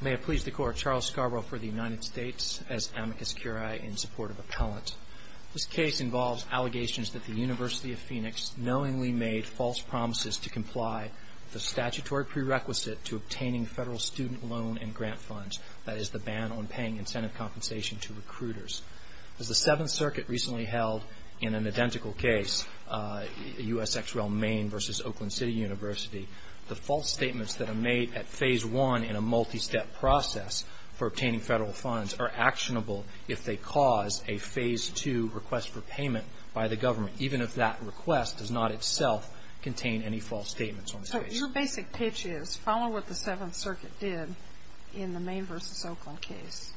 May I please declare Charles Scarborough for the United States as amicus curiae in support of appellant. This case involves allegations that the University of Phoenix knowingly made false promises to comply with the statutory prerequisite to obtaining federal student loan and grant funds, that is the ban on paying incentive compensation to recruiters. As the Seventh Circuit recently held in an identical case, U.S. ex rel. Maine v. Oakland City University, the false statements that are made at Phase 1 in a multi-step process for obtaining federal funds are actionable if they cause a Phase 2 request for payment by the government, even if that request does not itself contain any false statements on the case. So your basic pitch is follow what the Seventh Circuit did in the Maine v. Oakland case.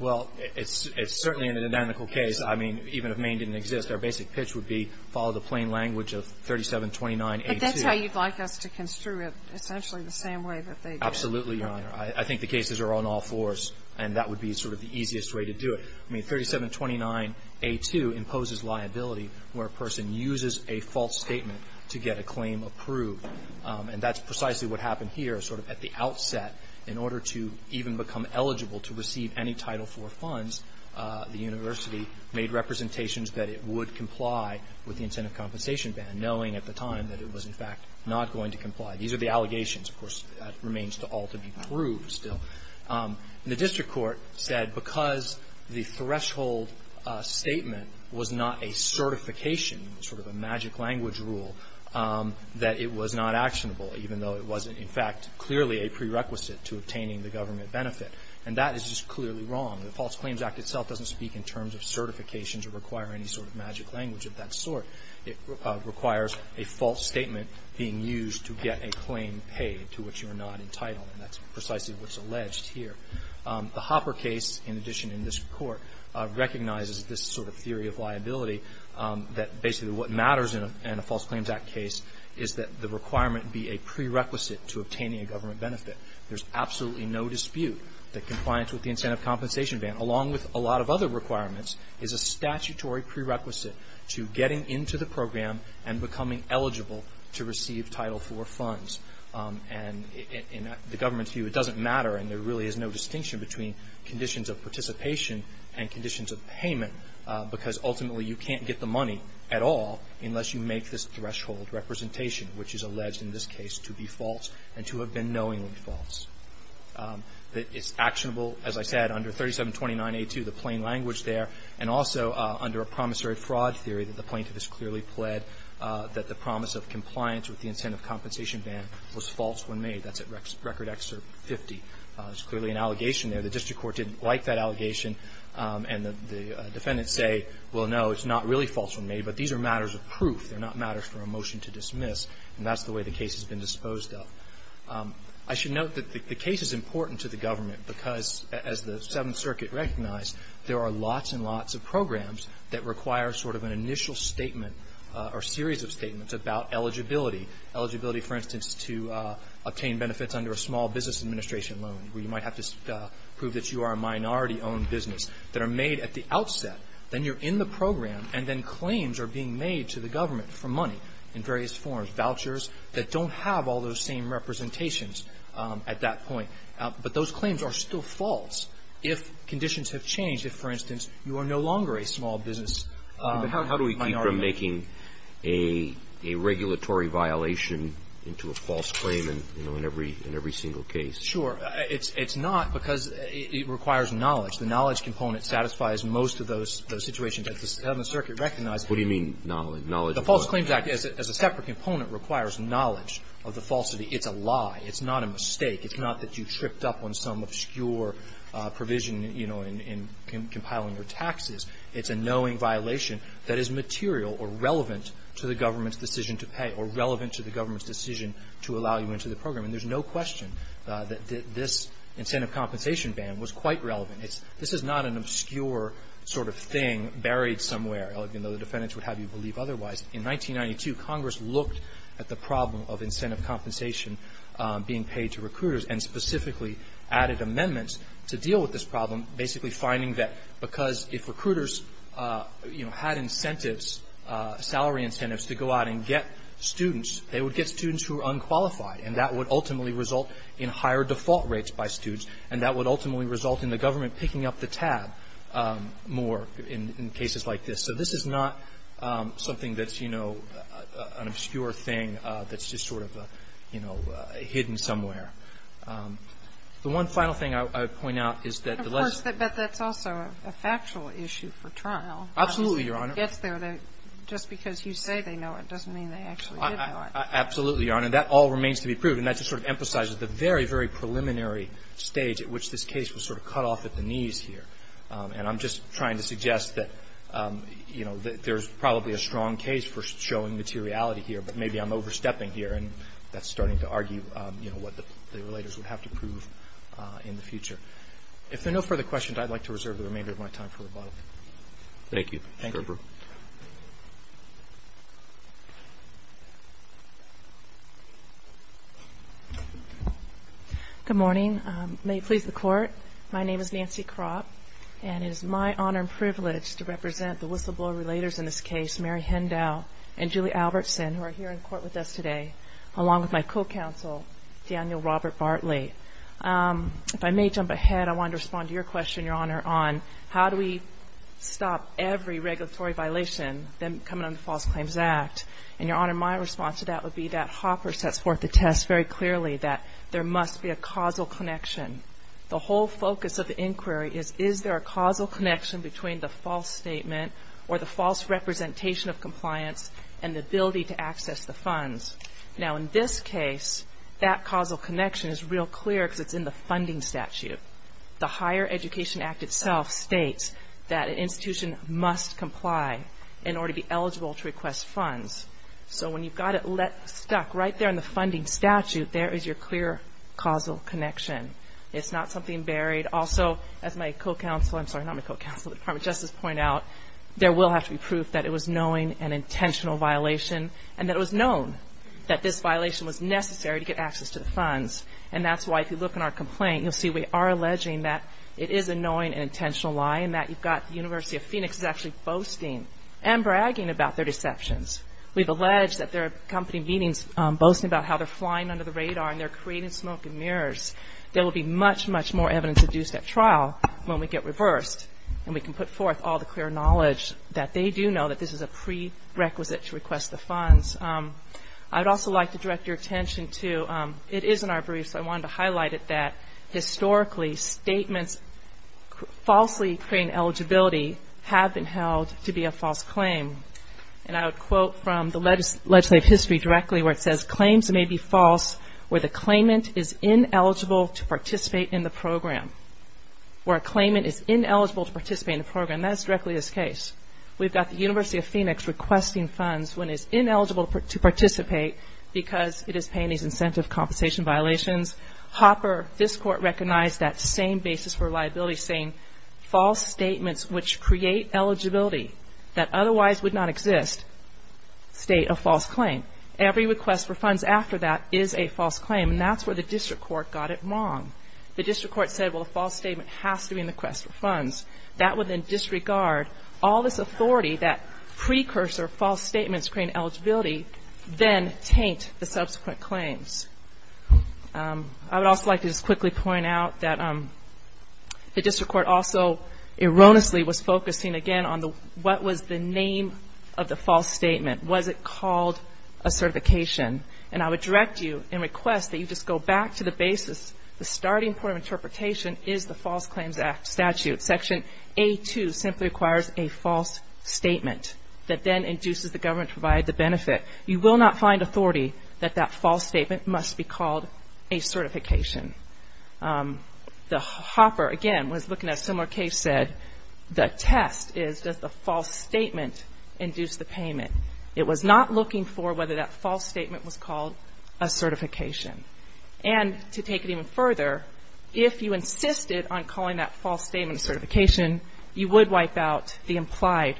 Well, it's certainly in an identical case. I mean, even if Maine didn't exist, our basic pitch would be follow the plain language of 3729A2. But that's how you'd like us to construe it, essentially the same way that they did. Absolutely, Your Honor. I think the cases are on all fours, and that would be sort of the easiest way to do it. I mean, 3729A2 imposes liability where a person uses a false statement to get a claim approved. And that's precisely what happened here, sort of at the outset. In order to even become eligible to receive any Title IV funds, the university made representations that it would comply with the incentive compensation ban, knowing at the time that it was, in fact, not going to comply. These are the allegations. Of course, that remains all to be proved still. The district court said because the threshold statement was not a certification, sort of a magic language rule, that it was not actionable, even though it was, in fact, clearly a prerequisite to obtaining the government benefit. And that is just clearly wrong. The False Claims Act itself doesn't speak in terms of certifications or require any sort of magic language of that sort. It requires a false statement being used to get a claim paid to which you are not entitled. And that's precisely what's alleged here. The Hopper case, in addition in this Court, recognizes this sort of theory of liability, that basically what matters in a False Claims Act case is that the requirement be a prerequisite to obtaining a government benefit. There's absolutely no dispute that compliance with the incentive compensation ban, along with a lot of other requirements, is a statutory prerequisite to getting into the program and becoming eligible to receive Title IV funds. And in the government's view, it doesn't matter, and there really is no distinction between conditions of participation and conditions of payment, because ultimately you can't get the money at all unless you make this threshold representation, which is alleged in this case to be false and to have been knowingly false. It's actionable, as I said, under 3729A2, the plain language there, and also under a promissory fraud theory that the plaintiff has clearly pled that the promise of compliance with the incentive compensation ban was false when made. That's at Record Act 50. There's clearly an allegation there. The district court didn't like that allegation, and the defendants say, well, no, it's not really false when made, but these are matters of proof. They're not matters for a motion to dismiss. And that's the way the case has been disposed of. I should note that the case is important to the government, because as the Seventh Circuit recognized, there are lots and lots of programs that require sort of an initial statement or series of statements about eligibility. Eligibility, for instance, to obtain benefits under a small business administration loan, where you might have to prove that you are a minority-owned business, that are made at the outset. Then you're in the program, and then claims are being made to the government for money in various forms, vouchers that don't have all those same representations at that point. But those claims are still false if conditions have changed. If, for instance, you are no longer a small business minority. But how do we keep from making a regulatory violation into a false claim in every single case? Sure. It's not because it requires knowledge. The knowledge component satisfies most of those situations that the Seventh Circuit recognized. What do you mean knowledge? The False Claims Act, as a separate component, requires knowledge of the falsity. It's a lie. It's not a mistake. It's not that you tripped up on some obscure provision, you know, in compiling your taxes. It's a knowing violation that is material or relevant to the government's decision to pay or relevant to the government's decision to allow you into the program. And there's no question that this incentive compensation ban was quite relevant. This is not an obscure sort of thing buried somewhere. Even though the defendants would have you believe otherwise. In 1992, Congress looked at the problem of incentive compensation being paid to recruiters and specifically added amendments to deal with this problem, basically finding that because if recruiters, you know, had incentives, salary incentives to go out and get students, they would get students who are unqualified. And that would ultimately result in higher default rates by students, and that would ultimately result in the government picking up the tab more in cases like this. So this is not something that's, you know, an obscure thing that's just sort of, you know, hidden somewhere. The one final thing I would point out is that the legislation. But that's also a factual issue for trial. Absolutely, Your Honor. Just because you say they know it doesn't mean they actually did know it. Absolutely, Your Honor. That all remains to be proved, and that just sort of emphasizes the very, very preliminary stage at which this case was sort of cut off at the knees here. And I'm just trying to suggest that, you know, there's probably a strong case for showing materiality here. But maybe I'm overstepping here, and that's starting to argue, you know, what the relators would have to prove in the future. If there are no further questions, I'd like to reserve the remainder of my time for rebuttal. Thank you. Thank you. Good morning. May it please the Court. My name is Nancy Kropp, and it is my honor and privilege to represent the whistleblower relators in this case, Mary Hendow and Julie Albertson, who are here in court with us today, along with my co-counsel, Daniel Robert Bartley. If I may jump ahead, I wanted to respond to your question, Your Honor, on how do we stop every regulatory violation coming under the False Claims Act. And, Your Honor, my response to that would be that Hopper sets forth the test very clearly that there must be a causal connection. The whole focus of the inquiry is, is there a causal connection between the false statement or the false representation of compliance and the ability to access the funds. Now, in this case, that causal connection is real clear because it's in the funding statute. The Higher Education Act itself states that an institution must comply in order to be eligible to request funds. So when you've got it stuck right there in the funding statute, there is your clear causal connection. It's not something buried. Also, as my co-counsel, I'm sorry, not my co-counsel, the Department of Justice point out, there will have to be proof that it was knowing an intentional violation and that it was known that this violation was necessary to get access to the funds. And that's why, if you look in our complaint, you'll see we are alleging that it is a knowing and intentional lie and that you've got the University of Phoenix is actually boasting and bragging about their deceptions. We've alleged that they're accompanying meetings boasting about how they're flying under the covers. There will be much, much more evidence at due step trial when we get reversed and we can put forth all the clear knowledge that they do know that this is a prerequisite to request the funds. I'd also like to direct your attention to, it is in our briefs, I wanted to highlight it, that historically statements falsely claim eligibility have been held to be a false claim. And I would quote from the legislative history directly where it says, claims may be false where the claimant is ineligible to participate in the program. Where a claimant is ineligible to participate in the program. That is directly this case. We've got the University of Phoenix requesting funds when it's ineligible to participate because it is paying these incentive compensation violations. Hopper, this court recognized that same basis for liability saying, false statements which create eligibility that otherwise would not exist state a false claim. Every request for funds after that is a false claim. And that's where the district court got it wrong. The district court said, well, a false statement has to be in the request for funds. That would then disregard all this authority that precursor false statements create eligibility then taint the subsequent claims. I would also like to just quickly point out that the district court also erroneously was focusing, again, on what was the name of the false statement. Was it called a certification? And I would direct you and request that you just go back to the basis. The starting point of interpretation is the False Claims Act statute. Section A-2 simply requires a false statement that then induces the government to provide the benefit. You will not find authority that that false statement must be called a certification. The Hopper, again, was looking at a similar case, said the test is does the false statement induce the payment. It was not looking for whether that false statement was called a certification. And to take it even further, if you insisted on calling that false statement a certification, you would wipe out the implied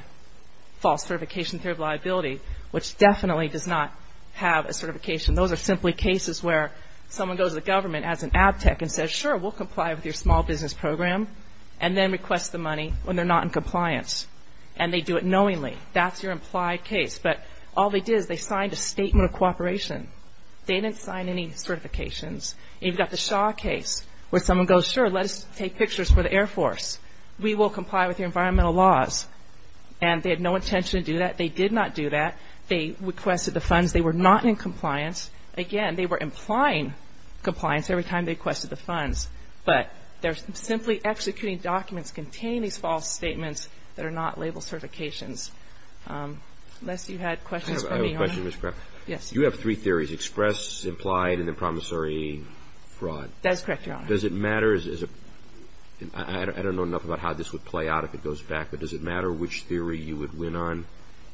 false certification theory of liability, which definitely does not have a certification. Those are simply cases where someone goes to the government as an abtec and says, sure, we'll comply with your small business program, and then requests the money when they're not in compliance. And they do it knowingly. That's your implied case. But all they did is they signed a statement of cooperation. They didn't sign any certifications. You've got the Shaw case where someone goes, sure, let us take pictures for the Air Force. We will comply with your environmental laws. And they had no intention to do that. They did not do that. They requested the funds. They were not in compliance. Again, they were implying compliance every time they requested the funds. But they're simply executing documents containing these false statements that are not labeled certifications. Unless you had questions for me, Your Honor. I have a question, Ms. Crabb. Yes. You have three theories, express, implied, and then promissory fraud. That is correct, Your Honor. Does it matter? I don't know enough about how this would play out if it goes back, but does it matter which theory you would win on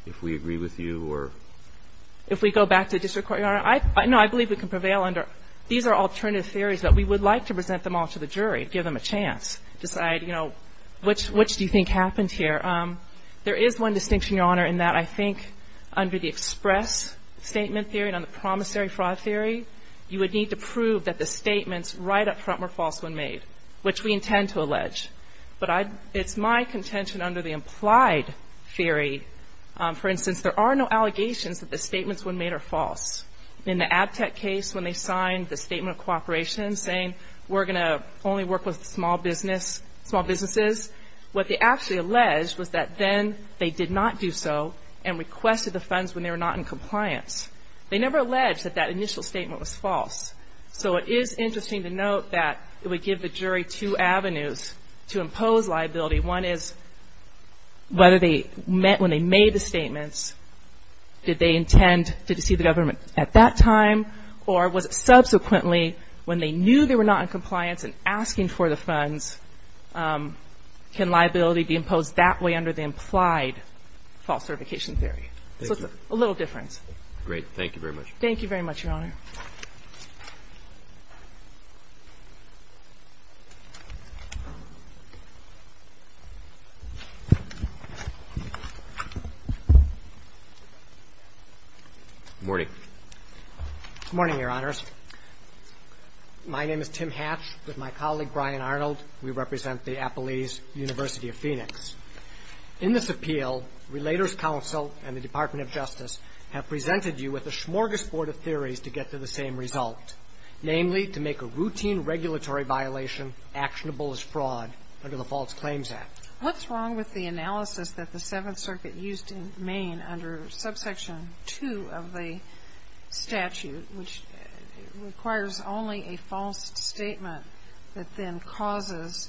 if we agree with you or? If we go back to district court, Your Honor, no, I believe we can prevail under these are alternative theories that we would like to present them all to the jury, give them a chance, decide, you know, which do you think happened here? There is one distinction, Your Honor, in that I think under the express statement theory and on the promissory fraud theory, you would need to prove that the statements right up front were false when made, which we intend to allege. But it's my contention under the implied theory, for instance, there are no allegations that the statements when made are false. In the ABTEC case, when they signed the statement of cooperation saying we're going to only work with small businesses, what they actually alleged was that then they did not do so and requested the funds when they were not in compliance. They never alleged that that initial statement was false. So it is interesting to note that it would give the jury two avenues to impose liability. One is whether they, when they made the statements, did they intend to deceive the government at that time or was it subsequently when they knew they were not in compliance and asking for the funds, can liability be imposed that way under the implied false certification theory? Thank you. So it's a little difference. Great. Thank you very much. Thank you very much, Your Honor. Good morning. Good morning, Your Honors. My name is Tim Hatch with my colleague Brian Arnold. We represent the Appalese University of Phoenix. In this appeal, Relators Council and the Department of Justice have presented you with a smorgasbord of theories to get to the same result, namely to make a routine regulatory violation actionable as fraud under the False Claims Act. What's wrong with the analysis that the Seventh Circuit used in Maine under Subsection 2 of the statute, which requires only a false statement that then causes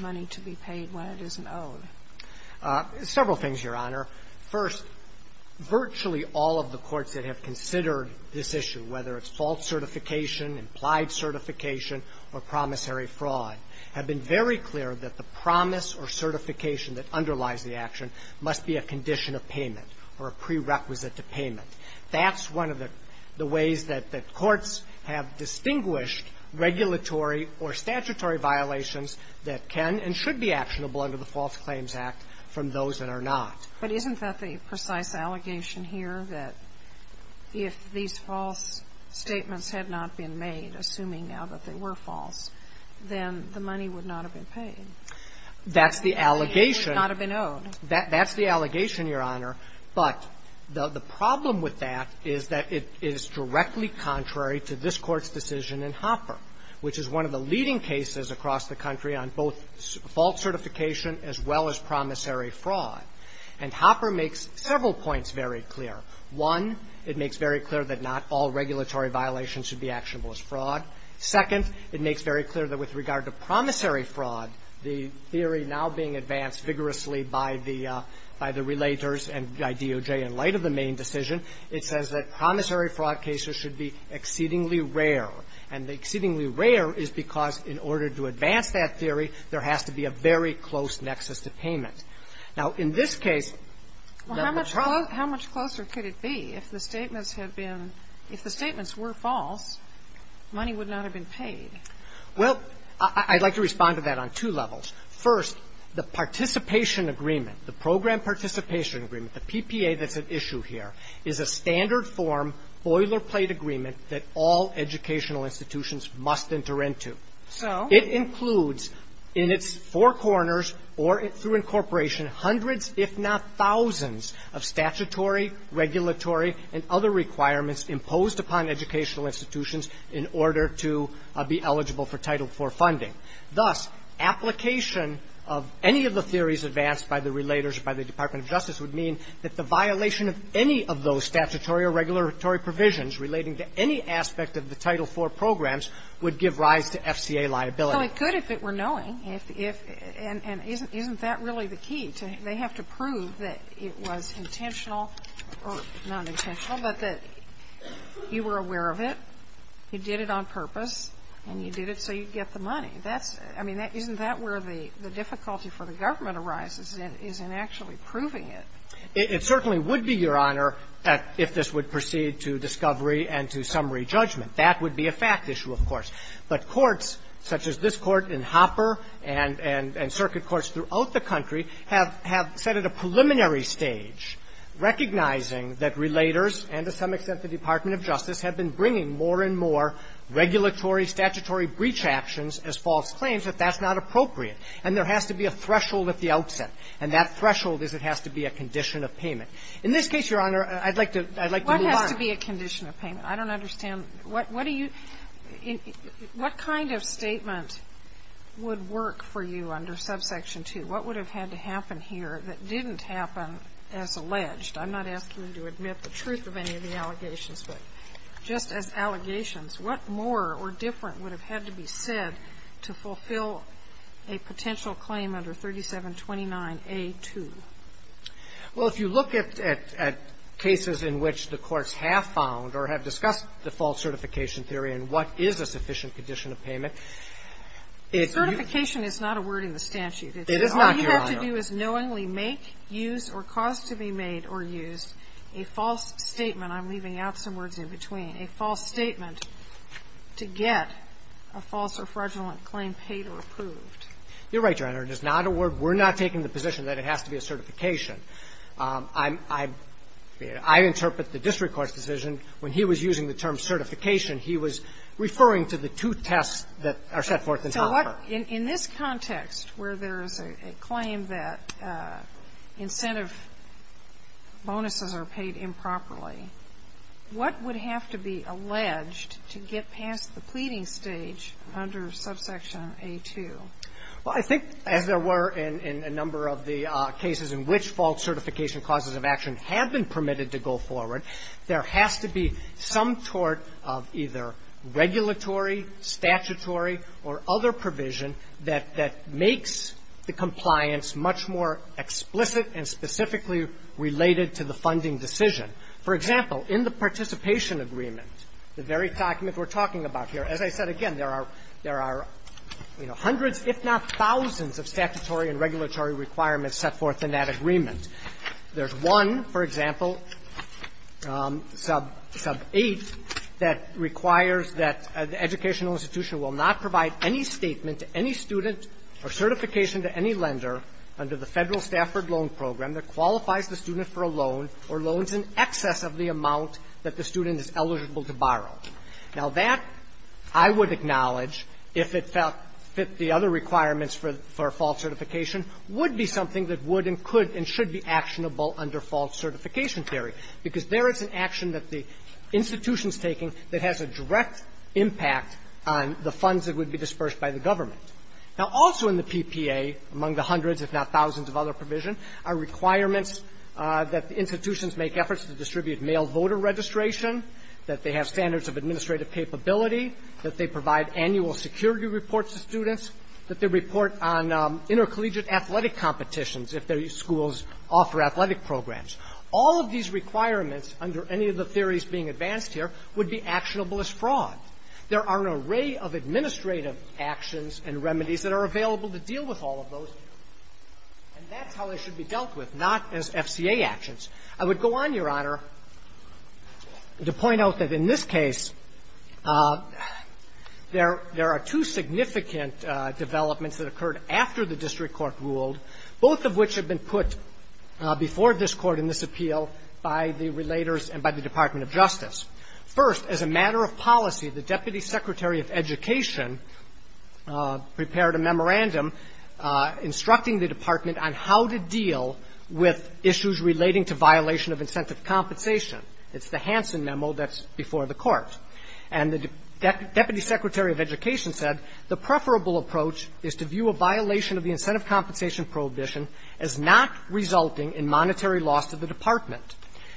money to be paid when it isn't owed? Several things, Your Honor. First, virtually all of the courts that have considered this issue, whether it's false certification, implied certification, or promissory fraud, have been very clear that the promise or certification that underlies the action must be a condition of payment or a prerequisite to payment. That's one of the ways that courts have distinguished regulatory or statutory violations that can and should be actionable under the False Claims Act from those that are not. But isn't that the precise allegation here that if these false statements had not been made, assuming now that they were false, then the money would not have been paid? That's the allegation. It would not have been owed. That's the allegation, Your Honor. But the problem with that is that it is directly contrary to this Court's decision in Hopper, which is one of the leading cases across the country on both false certification as well as promissory fraud. And Hopper makes several points very clear. One, it makes very clear that not all regulatory violations should be actionable as fraud. Second, it makes very clear that with regard to promissory fraud, the theory now being advanced vigorously by the relators and by DOJ in light of the main decision, it says that promissory fraud cases should be exceedingly rare. And the exceedingly rare is because, in order to advance that theory, there has to be a very close nexus to payment. Now, in this case, the problem How much closer could it be if the statements had been – if the statements were false, money would not have been paid? Well, I'd like to respond to that on two levels. First, the participation agreement, the program participation agreement, the PPA that's at issue here, is a standard form boilerplate agreement that all educational institutions must enter into. So? It includes in its four corners or through incorporation hundreds, if not thousands, of statutory, regulatory, and other requirements imposed upon educational institutions in order to be eligible for Title IV funding. Thus, application of any of the theories advanced by the relators, by the Department of Justice, would mean that the violation of any of those statutory or regulatory provisions relating to any aspect of the Title IV programs would give rise to FCA liability. Well, it could if it were knowing. And isn't that really the key? They have to prove that it was intentional or not intentional, but that you were aware of it, you did it on purpose, and you did it so you'd get the money. That's the key. I mean, isn't that where the difficulty for the government arises in, is in actually proving it? It certainly would be, Your Honor, if this would proceed to discovery and to summary judgment. That would be a fact issue, of course. But courts such as this Court in Hopper and circuit courts throughout the country have set at a preliminary stage, recognizing that relators and, to some extent, the Department of Justice have been bringing more and more regulatory, statutory breach actions as false claims, that that's not appropriate. And there has to be a threshold at the outset. And that threshold is it has to be a condition of payment. In this case, Your Honor, I'd like to move on. What has to be a condition of payment? I don't understand. What do you – what kind of statement would work for you under Subsection What would have had to happen here that didn't happen as alleged? I'm not asking you to admit the truth of any of the allegations. But just as allegations, what more or different would have had to be said to fulfill a potential claim under 3729A2? Well, if you look at cases in which the courts have found or have discussed the false certification theory and what is a sufficient condition of payment, it's – Certification is not a word in the statute. It is not, Your Honor. What you have to do is knowingly make, use, or cause to be made or used a false statement. I'm leaving out some words in between. A false statement to get a false or fraudulent claim paid or approved. You're right, Your Honor. It is not a word. We're not taking the position that it has to be a certification. I'm – I interpret the district court's decision when he was using the term certification. He was referring to the two tests that are set forth in the offer. So what – in this context where there is a claim that incentive bonuses are paid improperly, what would have to be alleged to get past the pleading stage under subsection A2? Well, I think as there were in a number of the cases in which false certification clauses of action have been permitted to go forward, there has to be some sort of either regulatory, statutory, or other provision that makes the compliance much more explicit and specifically related to the funding decision. For example, in the participation agreement, the very document we're talking about here, as I said again, there are hundreds, if not thousands of statutory and regulatory requirements set forth in that agreement. There's one, for example, sub – sub 8, that requires that the educational institution will not provide any statement to any student or certification to any lender under the Federal Stafford Loan Program that qualifies the student for a loan or loans in excess of the amount that the student is eligible to borrow. Now, that, I would acknowledge, if it felt fit the other requirements for false certification, would be something that would and could and should be actionable under false certification theory, because there is an action that the institution is taking that has a direct impact on the funds that would be dispersed by the government. Now, also in the PPA, among the hundreds, if not thousands of other provisions, are requirements that the institutions make efforts to distribute mail voter registration, that they have standards of administrative capability, that they provide annual security reports to students, that they report on intercollegiate athletic competitions if their schools offer athletic programs. All of these requirements, under any of the theories being advanced here, would be actionable as fraud. There are an array of administrative actions and remedies that are available to deal with all of those, and that's how they should be dealt with, not as FCA actions. I would go on, Your Honor, to point out that in this case, there are two significant developments that occurred after the district court ruled, both of which have been put before this Court in this appeal by the relators and by the Department of Justice. First, as a matter of policy, the Deputy Secretary of Education prepared a memorandum instructing the Department on how to deal with issues relating to violation of incentive compensation. It's the Hansen memo that's before the Court. And the Deputy Secretary of Education said the preferable approach is to view a violation of the incentive compensation prohibition as not resulting in monetary loss to the Department.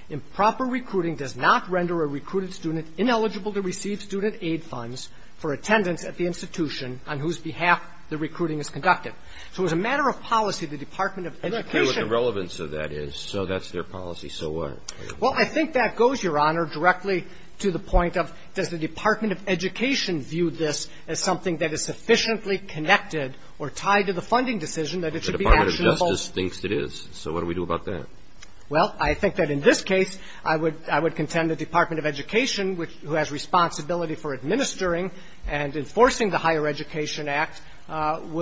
Improper recruiting does not render a recruited student ineligible to receive student aid funds for attendance at the institution on whose behalf the recruiting is conducted. So as a matter of policy, the Department of Education ---- I'm not clear what the relevance of that is. So that's their policy. So what? Well, I think that goes, Your Honor, directly to the point of does the Department of Education view this as something that is sufficiently connected or tied to the funding decision that it should be actionable? The Department of Justice thinks it is. So what do we do about that? Well, I think that in this case, I would contend the Department of Education, who has responsibility for administering and enforcing the Higher Education Act, would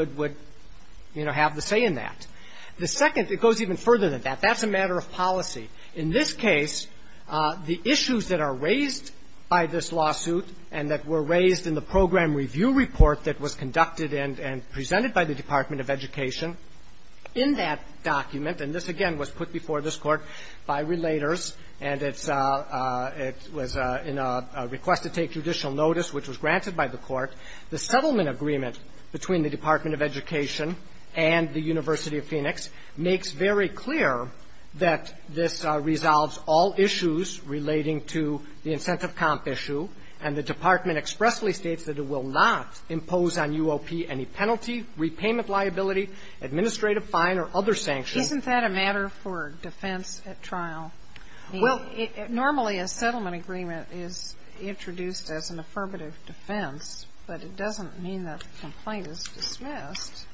---- would, you know, have the say in that. The second ---- it goes even further than that. That's a matter of policy. In this case, the issues that are raised by this lawsuit and that were raised in the program review report that was conducted and presented by the Department of Education in that document, and this, again, was put before this Court by relators, and it's a ---- it was in a request to take judicial notice, which was granted by the Court. The settlement agreement between the Department of Education and the University of Phoenix makes very clear that this resolves all issues relating to the incentive comp issue, and the Department expressly states that it will not impose on UOP any penalty, repayment liability, administrative fine, or other sanctions. Isn't that a matter for defense at trial? Well, it ---- But it doesn't mean that the complaint is dismissed.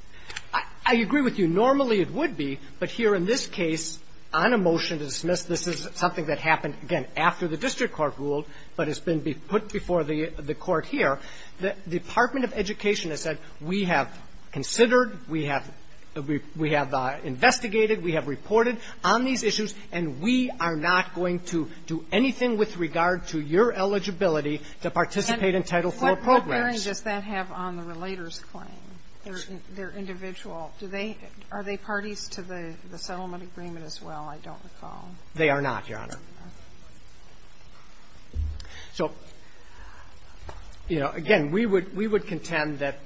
I agree with you. Normally, it would be. But here in this case, on a motion to dismiss, this is something that happened, again, after the district court ruled, but has been put before the Court here. The Department of Education has said, we have considered, we have investigated, we have reported on these issues, and we are not going to do anything with regard to your eligibility to participate in Title IV programs. What bearing does that have on the relator's claim, their individual? Do they ---- are they parties to the settlement agreement as well, I don't recall? They are not, Your Honor. So, you know, again, we would ---- we would contend that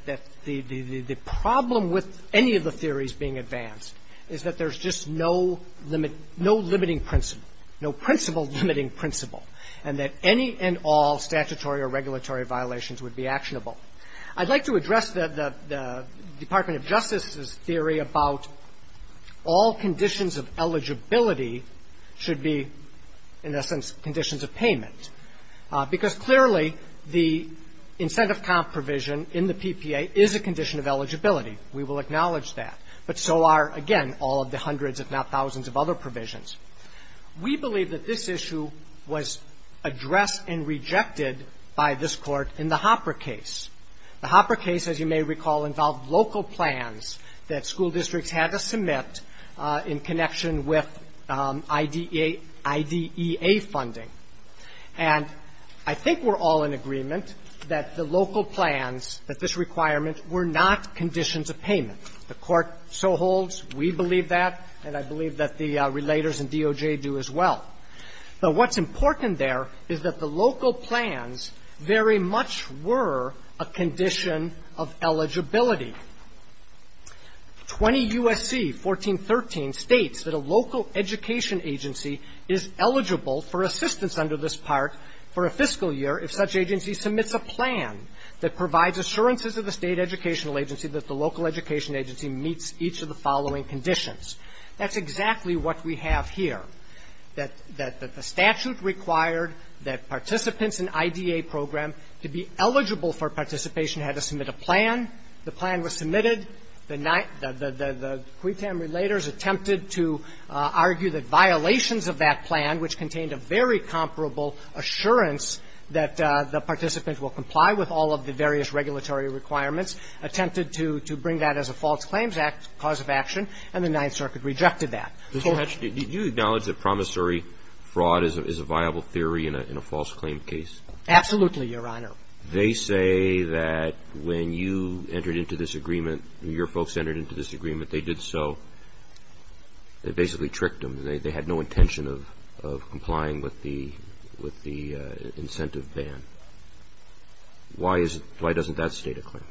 the problem with any of the theories being advanced is that there's just no limit ---- no limiting principle, no principle limiting principle, and that any and all statutory or regulatory violations would be actionable. I'd like to address the Department of Justice's theory about all conditions of eligibility should be, in essence, conditions of payment, because clearly, the incentive comp provision in the PPA is a condition of eligibility. We will acknowledge that. But so are, again, all of the hundreds, if not thousands, of other provisions. We believe that this issue was addressed and rejected by this Court in the Hopper case. The Hopper case, as you may recall, involved local plans that school districts had to submit in connection with IDEA funding. And I think we're all in agreement that the local plans, that this requirement, were not conditions of payment. The Court so holds. We believe that. And I believe that the Relators and DOJ do as well. But what's important there is that the local plans very much were a condition of eligibility. 20 U.S.C. 1413 states that a local education agency is eligible for assistance under this part for a fiscal year if such agency submits a plan that provides assurances of the state educational agency that the local education agency meets each of the following conditions. That's exactly what we have here, that the statute required that participants in IDEA program to be eligible for participation had to submit a plan. The plan was submitted. The QUTAM Relators attempted to argue that violations of that plan, which contained a very comparable assurance that the participant will comply with all of the various regulatory requirements, attempted to bring that as a false claims cause of action, and the Ninth Circuit rejected that. Mr. Hatch, did you acknowledge that promissory fraud is a viable theory in a false claim case? Absolutely, Your Honor. They say that when you entered into this agreement, your folks entered into this agreement, they did so, they basically tricked them. They had no intention of complying with the incentive ban. Why doesn't that state a claim?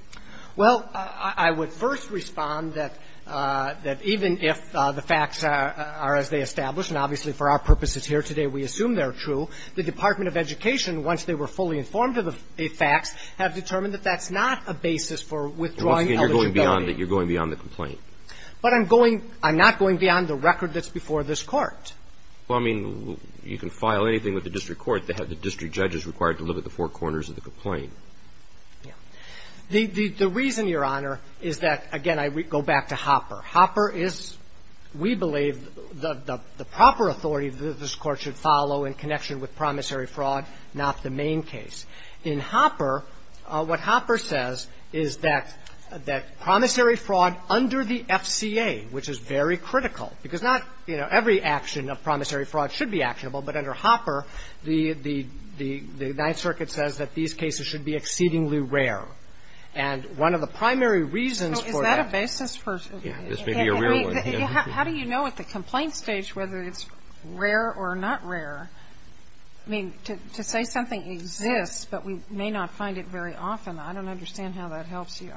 Well, I would first respond that even if the facts are as they established, and obviously for our purposes here today we assume they're true, the Department of Education, once they were fully informed of the facts, have determined that that's not a basis for withdrawing eligibility. You're going beyond the complaint. But I'm not going beyond the record that's before this Court. Well, I mean, you can file anything with the district court. The district judge is required to look at the four corners of the complaint. The reason, Your Honor, is that, again, I go back to Hopper. Hopper is, we believe, the proper authority that this Court should follow in connection with promissory fraud, not the main case. In Hopper, what Hopper says is that promissory fraud under the FCA, which is very critical, because not, you know, every action of promissory fraud should be actionable, but under Hopper, the Ninth Circuit says that these cases should be exceedingly rare. And one of the primary reasons for that. So is that a basis for? This may be a real one. How do you know at the complaint stage whether it's rare or not rare? I mean, to say something exists, but we may not find it very often, I don't understand how that helps you.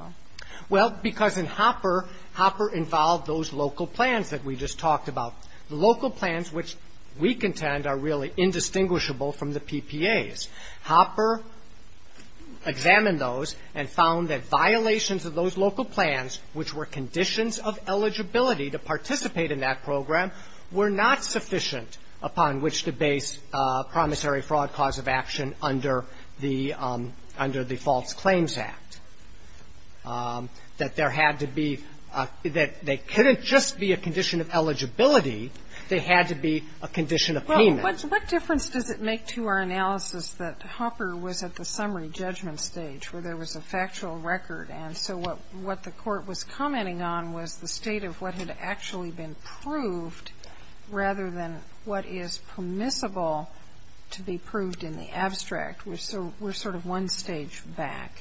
Well, because in Hopper, Hopper involved those local plans that we just talked about, local plans which we contend are really indistinguishable from the PPAs. Hopper examined those and found that violations of those local plans, which were conditions of eligibility to participate in that program, were not sufficient upon which to base promissory fraud cause of action under the False Claims Act, that there had to be a – that they couldn't just be a condition of eligibility, they had to be a condition of payment. Well, what difference does it make to our analysis that Hopper was at the summary judgment stage where there was a factual record, and so what the Court was commenting on was the state of what had actually been proved rather than what is permissible to be proved in the abstract. We're sort of one stage back.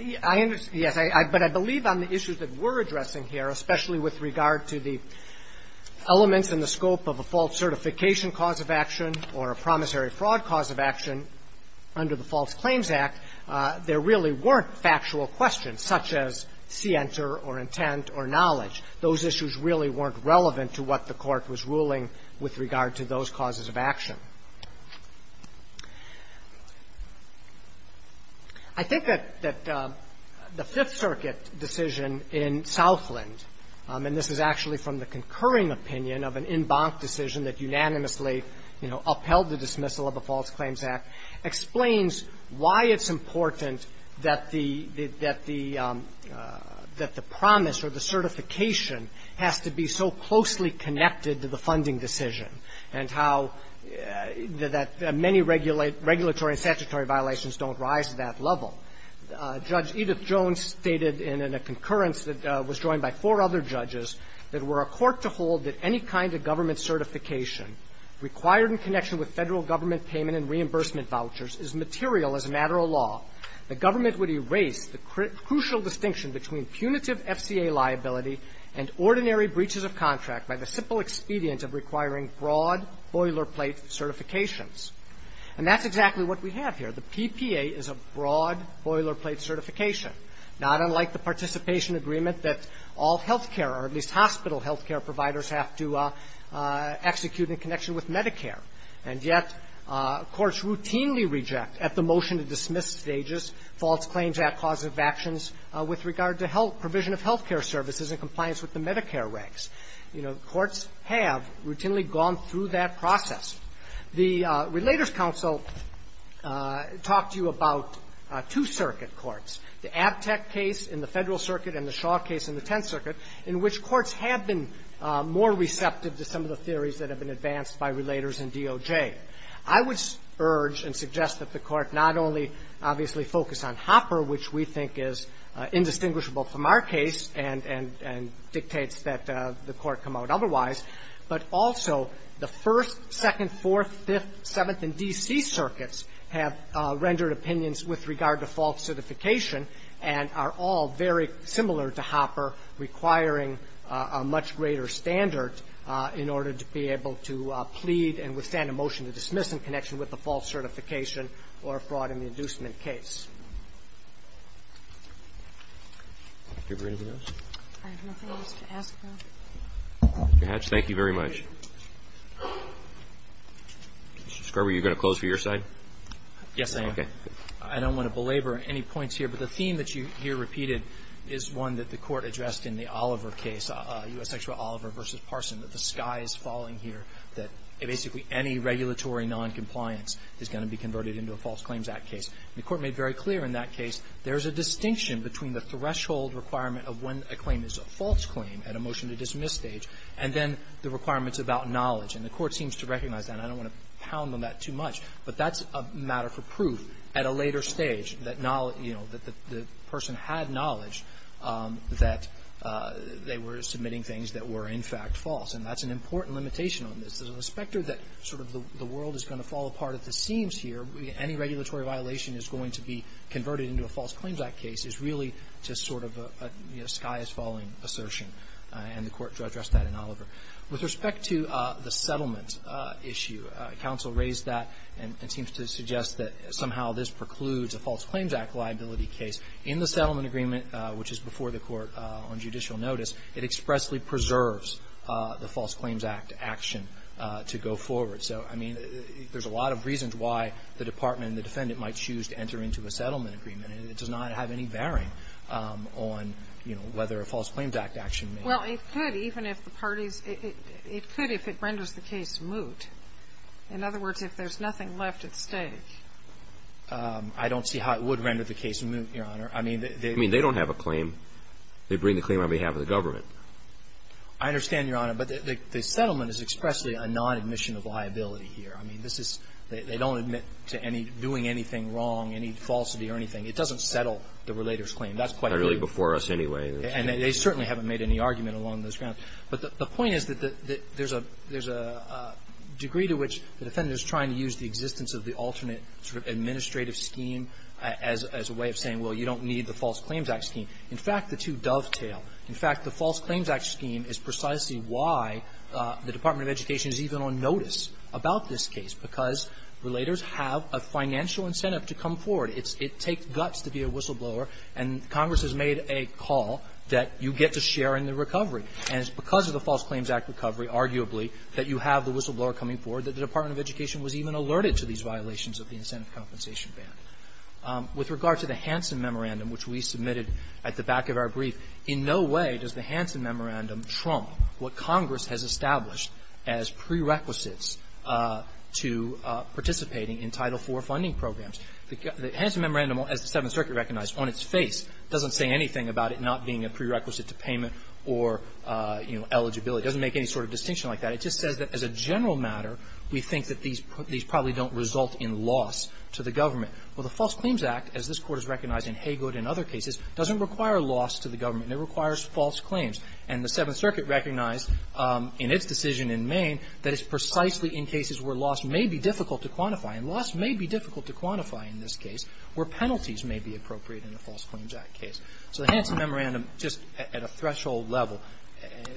Yes, but I believe on the issues that we're addressing here, especially with regard to the elements and the scope of a false certification cause of action or a promissory fraud cause of action under the False Claims Act, there really weren't factual questions such as scienter or intent or knowledge. Those issues really weren't relevant to what the Court was ruling with regard to those causes of action. I think that the Fifth Circuit decision in Southland, and this is actually from the concurring opinion of an embanked decision that unanimously, you know, upheld the dismissal of the False Claims Act, explains why it's important that the – that the promise or the certification has to be so closely connected to the funding decision, and how that many regulatory and statutory violations don't rise to that level. Judge Edith Jones stated in a concurrence that was joined by four other judges that were a court to hold that any kind of government certification required in connection with Federal government payment and reimbursement vouchers is material as a matter of law. The government would erase the crucial distinction between punitive FCA liability and ordinary breaches of contract by the simple expedient of requiring broad boilerplate certifications. And that's exactly what we have here. The PPA is a broad boilerplate certification, not unlike the participation agreement that all health care, or at least hospital health care providers have to participate in in order to get certification to dismiss stages, False Claims Act causes of actions with regard to provision of health care services in compliance with the Medicare regs. You know, courts have routinely gone through that process. The Relators Council talked to you about two circuit courts, the Abtec case in the Federal Circuit and the Shaw case in the Tenth Circuit, in which courts have been more receptive to some of the theories that have been advanced by Relators and DOJ. I would urge and suggest that the Court not only obviously focus on Hopper, which we think is indistinguishable from our case and dictates that the Court come out otherwise, but also the First, Second, Fourth, Fifth, Seventh, and D.C. circuits have rendered opinions with regard to false certification and are all very similar to Hopper, requiring a much greater standard in order to be able to plead and withstand a motion to dismiss in connection with the false certification or a fraud in the inducement case. Do you have anything else? Mr. Hatch, thank you very much. Mr. Scriber, are you going to close for your side? Yes, I am. I don't want to belabor any points here, but the theme that you hear repeatedly is one that the Court addressed in the Oliver case, U.S. Extra Oliver v. Parson, that the sky is falling here, that basically any regulatory noncompliance is going to be converted into a False Claims Act case. The Court made very clear in that case there is a distinction between the threshold requirement of when a claim is a false claim at a motion-to-dismiss stage and then the requirements about knowledge. And the Court seems to recognize that. I don't want to pound on that too much, but that's a matter for proof at a later stage, that the person had knowledge that they were submitting things that were, in fact, false. And that's an important limitation on this. There's a specter that the world is going to fall apart at the seams here. Any regulatory violation is going to be converted into a False Claims Act case is really just sort of a sky is falling assertion. And the Court addressed that in Oliver. With respect to the settlement issue, counsel raised that and seems to suggest that somehow this precludes a False Claims Act liability case in the settlement agreement, which is before the Court on judicial notice. It expressly preserves the False Claims Act action to go forward. So, I mean, there's a lot of reasons why the Department and the defendant might choose to enter into a settlement agreement, and it does not have any bearing on, you know, whether a False Claims Act action may or may not. Well, it could, even if the parties – it could if it renders the case moot. In other words, if there's nothing left at stake. I don't see how it would render the case moot, Your Honor. I mean, they – I mean, they don't have a claim. They bring the claim on behalf of the government. I understand, Your Honor, but the settlement is expressly a non-admission of liability here. I mean, this is – they don't admit to any – doing anything wrong, any falsity or anything. It doesn't settle the relator's claim. That's quite clear. Not really before us, anyway. And they certainly haven't made any argument along those grounds. But the point is that there's a – there's a degree to which the defendant is trying to use the existence of the alternate sort of administrative scheme as a way of saying, well, you don't need the False Claims Act scheme. In fact, the two dovetail. In fact, the False Claims Act scheme is precisely why the Department of Education is even on notice about this case, because relators have a financial incentive to come forward. It's – it takes guts to be a whistleblower. And Congress has made a call that you get to share in the recovery. And it's because of the False Claims Act recovery, arguably, that you have the whistleblower coming forward that the Department of Education was even alerted to these violations of the incentive compensation ban. With regard to the Hansen Memorandum, which we submitted at the back of our brief, in no way does the Hansen Memorandum trump what Congress has established as prerequisites to participating in Title IV funding programs. The Hansen Memorandum, as the Seventh Circuit recognized, on its face doesn't say anything about it not being a prerequisite to payment or, you know, eligibility. It doesn't make any sort of distinction like that. It just says that as a general matter, we think that these probably don't result in loss to the government. Well, the False Claims Act, as this Court has recognized in Haygood and other cases, doesn't require loss to the government. It requires false claims. And the Seventh Circuit recognized in its decision in Maine that it's precisely in cases where loss may be difficult to quantify, and loss may be difficult to quantify in this case, where penalties may be appropriate in the False Claims Act case. So the Hansen Memorandum, just at a threshold level,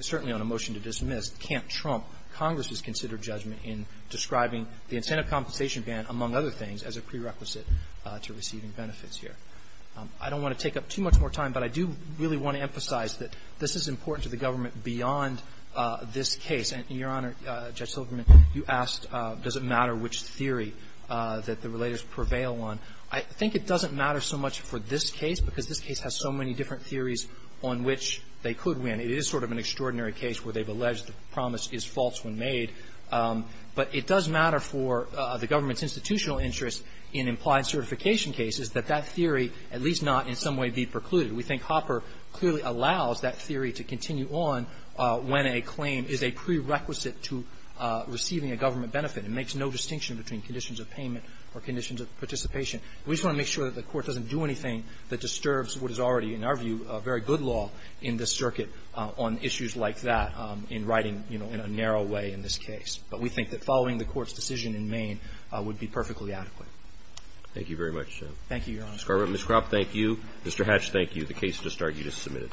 certainly on a motion to dismiss, can't trump Congress's considered judgment in describing the incentive compensation ban, among other things, as a prerequisite to receiving benefits here. I don't want to take up too much more time, but I do really want to emphasize that this is important to the government beyond this case. And, Your Honor, Judge Silverman, you asked, does it matter which theory that the relators prevail on. I think it doesn't matter so much for this case, because this case has so many different theories on which they could win. It is sort of an extraordinary case where they've alleged the promise is false when made, but it does matter for the government's institutional interest in implied certification cases that that theory, at least not in some way, be precluded. We think Hopper clearly allows that theory to continue on when a claim is a prerequisite to receiving a government benefit. It makes no distinction between conditions of payment or conditions of participation. We just want to make sure that the Court doesn't do anything that disturbs what is already, in our view, a very good law in this circuit on issues like that in writing, you know, in a narrow way in this case. But we think that following the Court's decision in Maine would be perfectly adequate. Thank you very much, Jeff. Thank you, Your Honor. Ms. Carver, Ms. Cropp, thank you. Mr. Hatch, thank you. The case does start. You just submitted.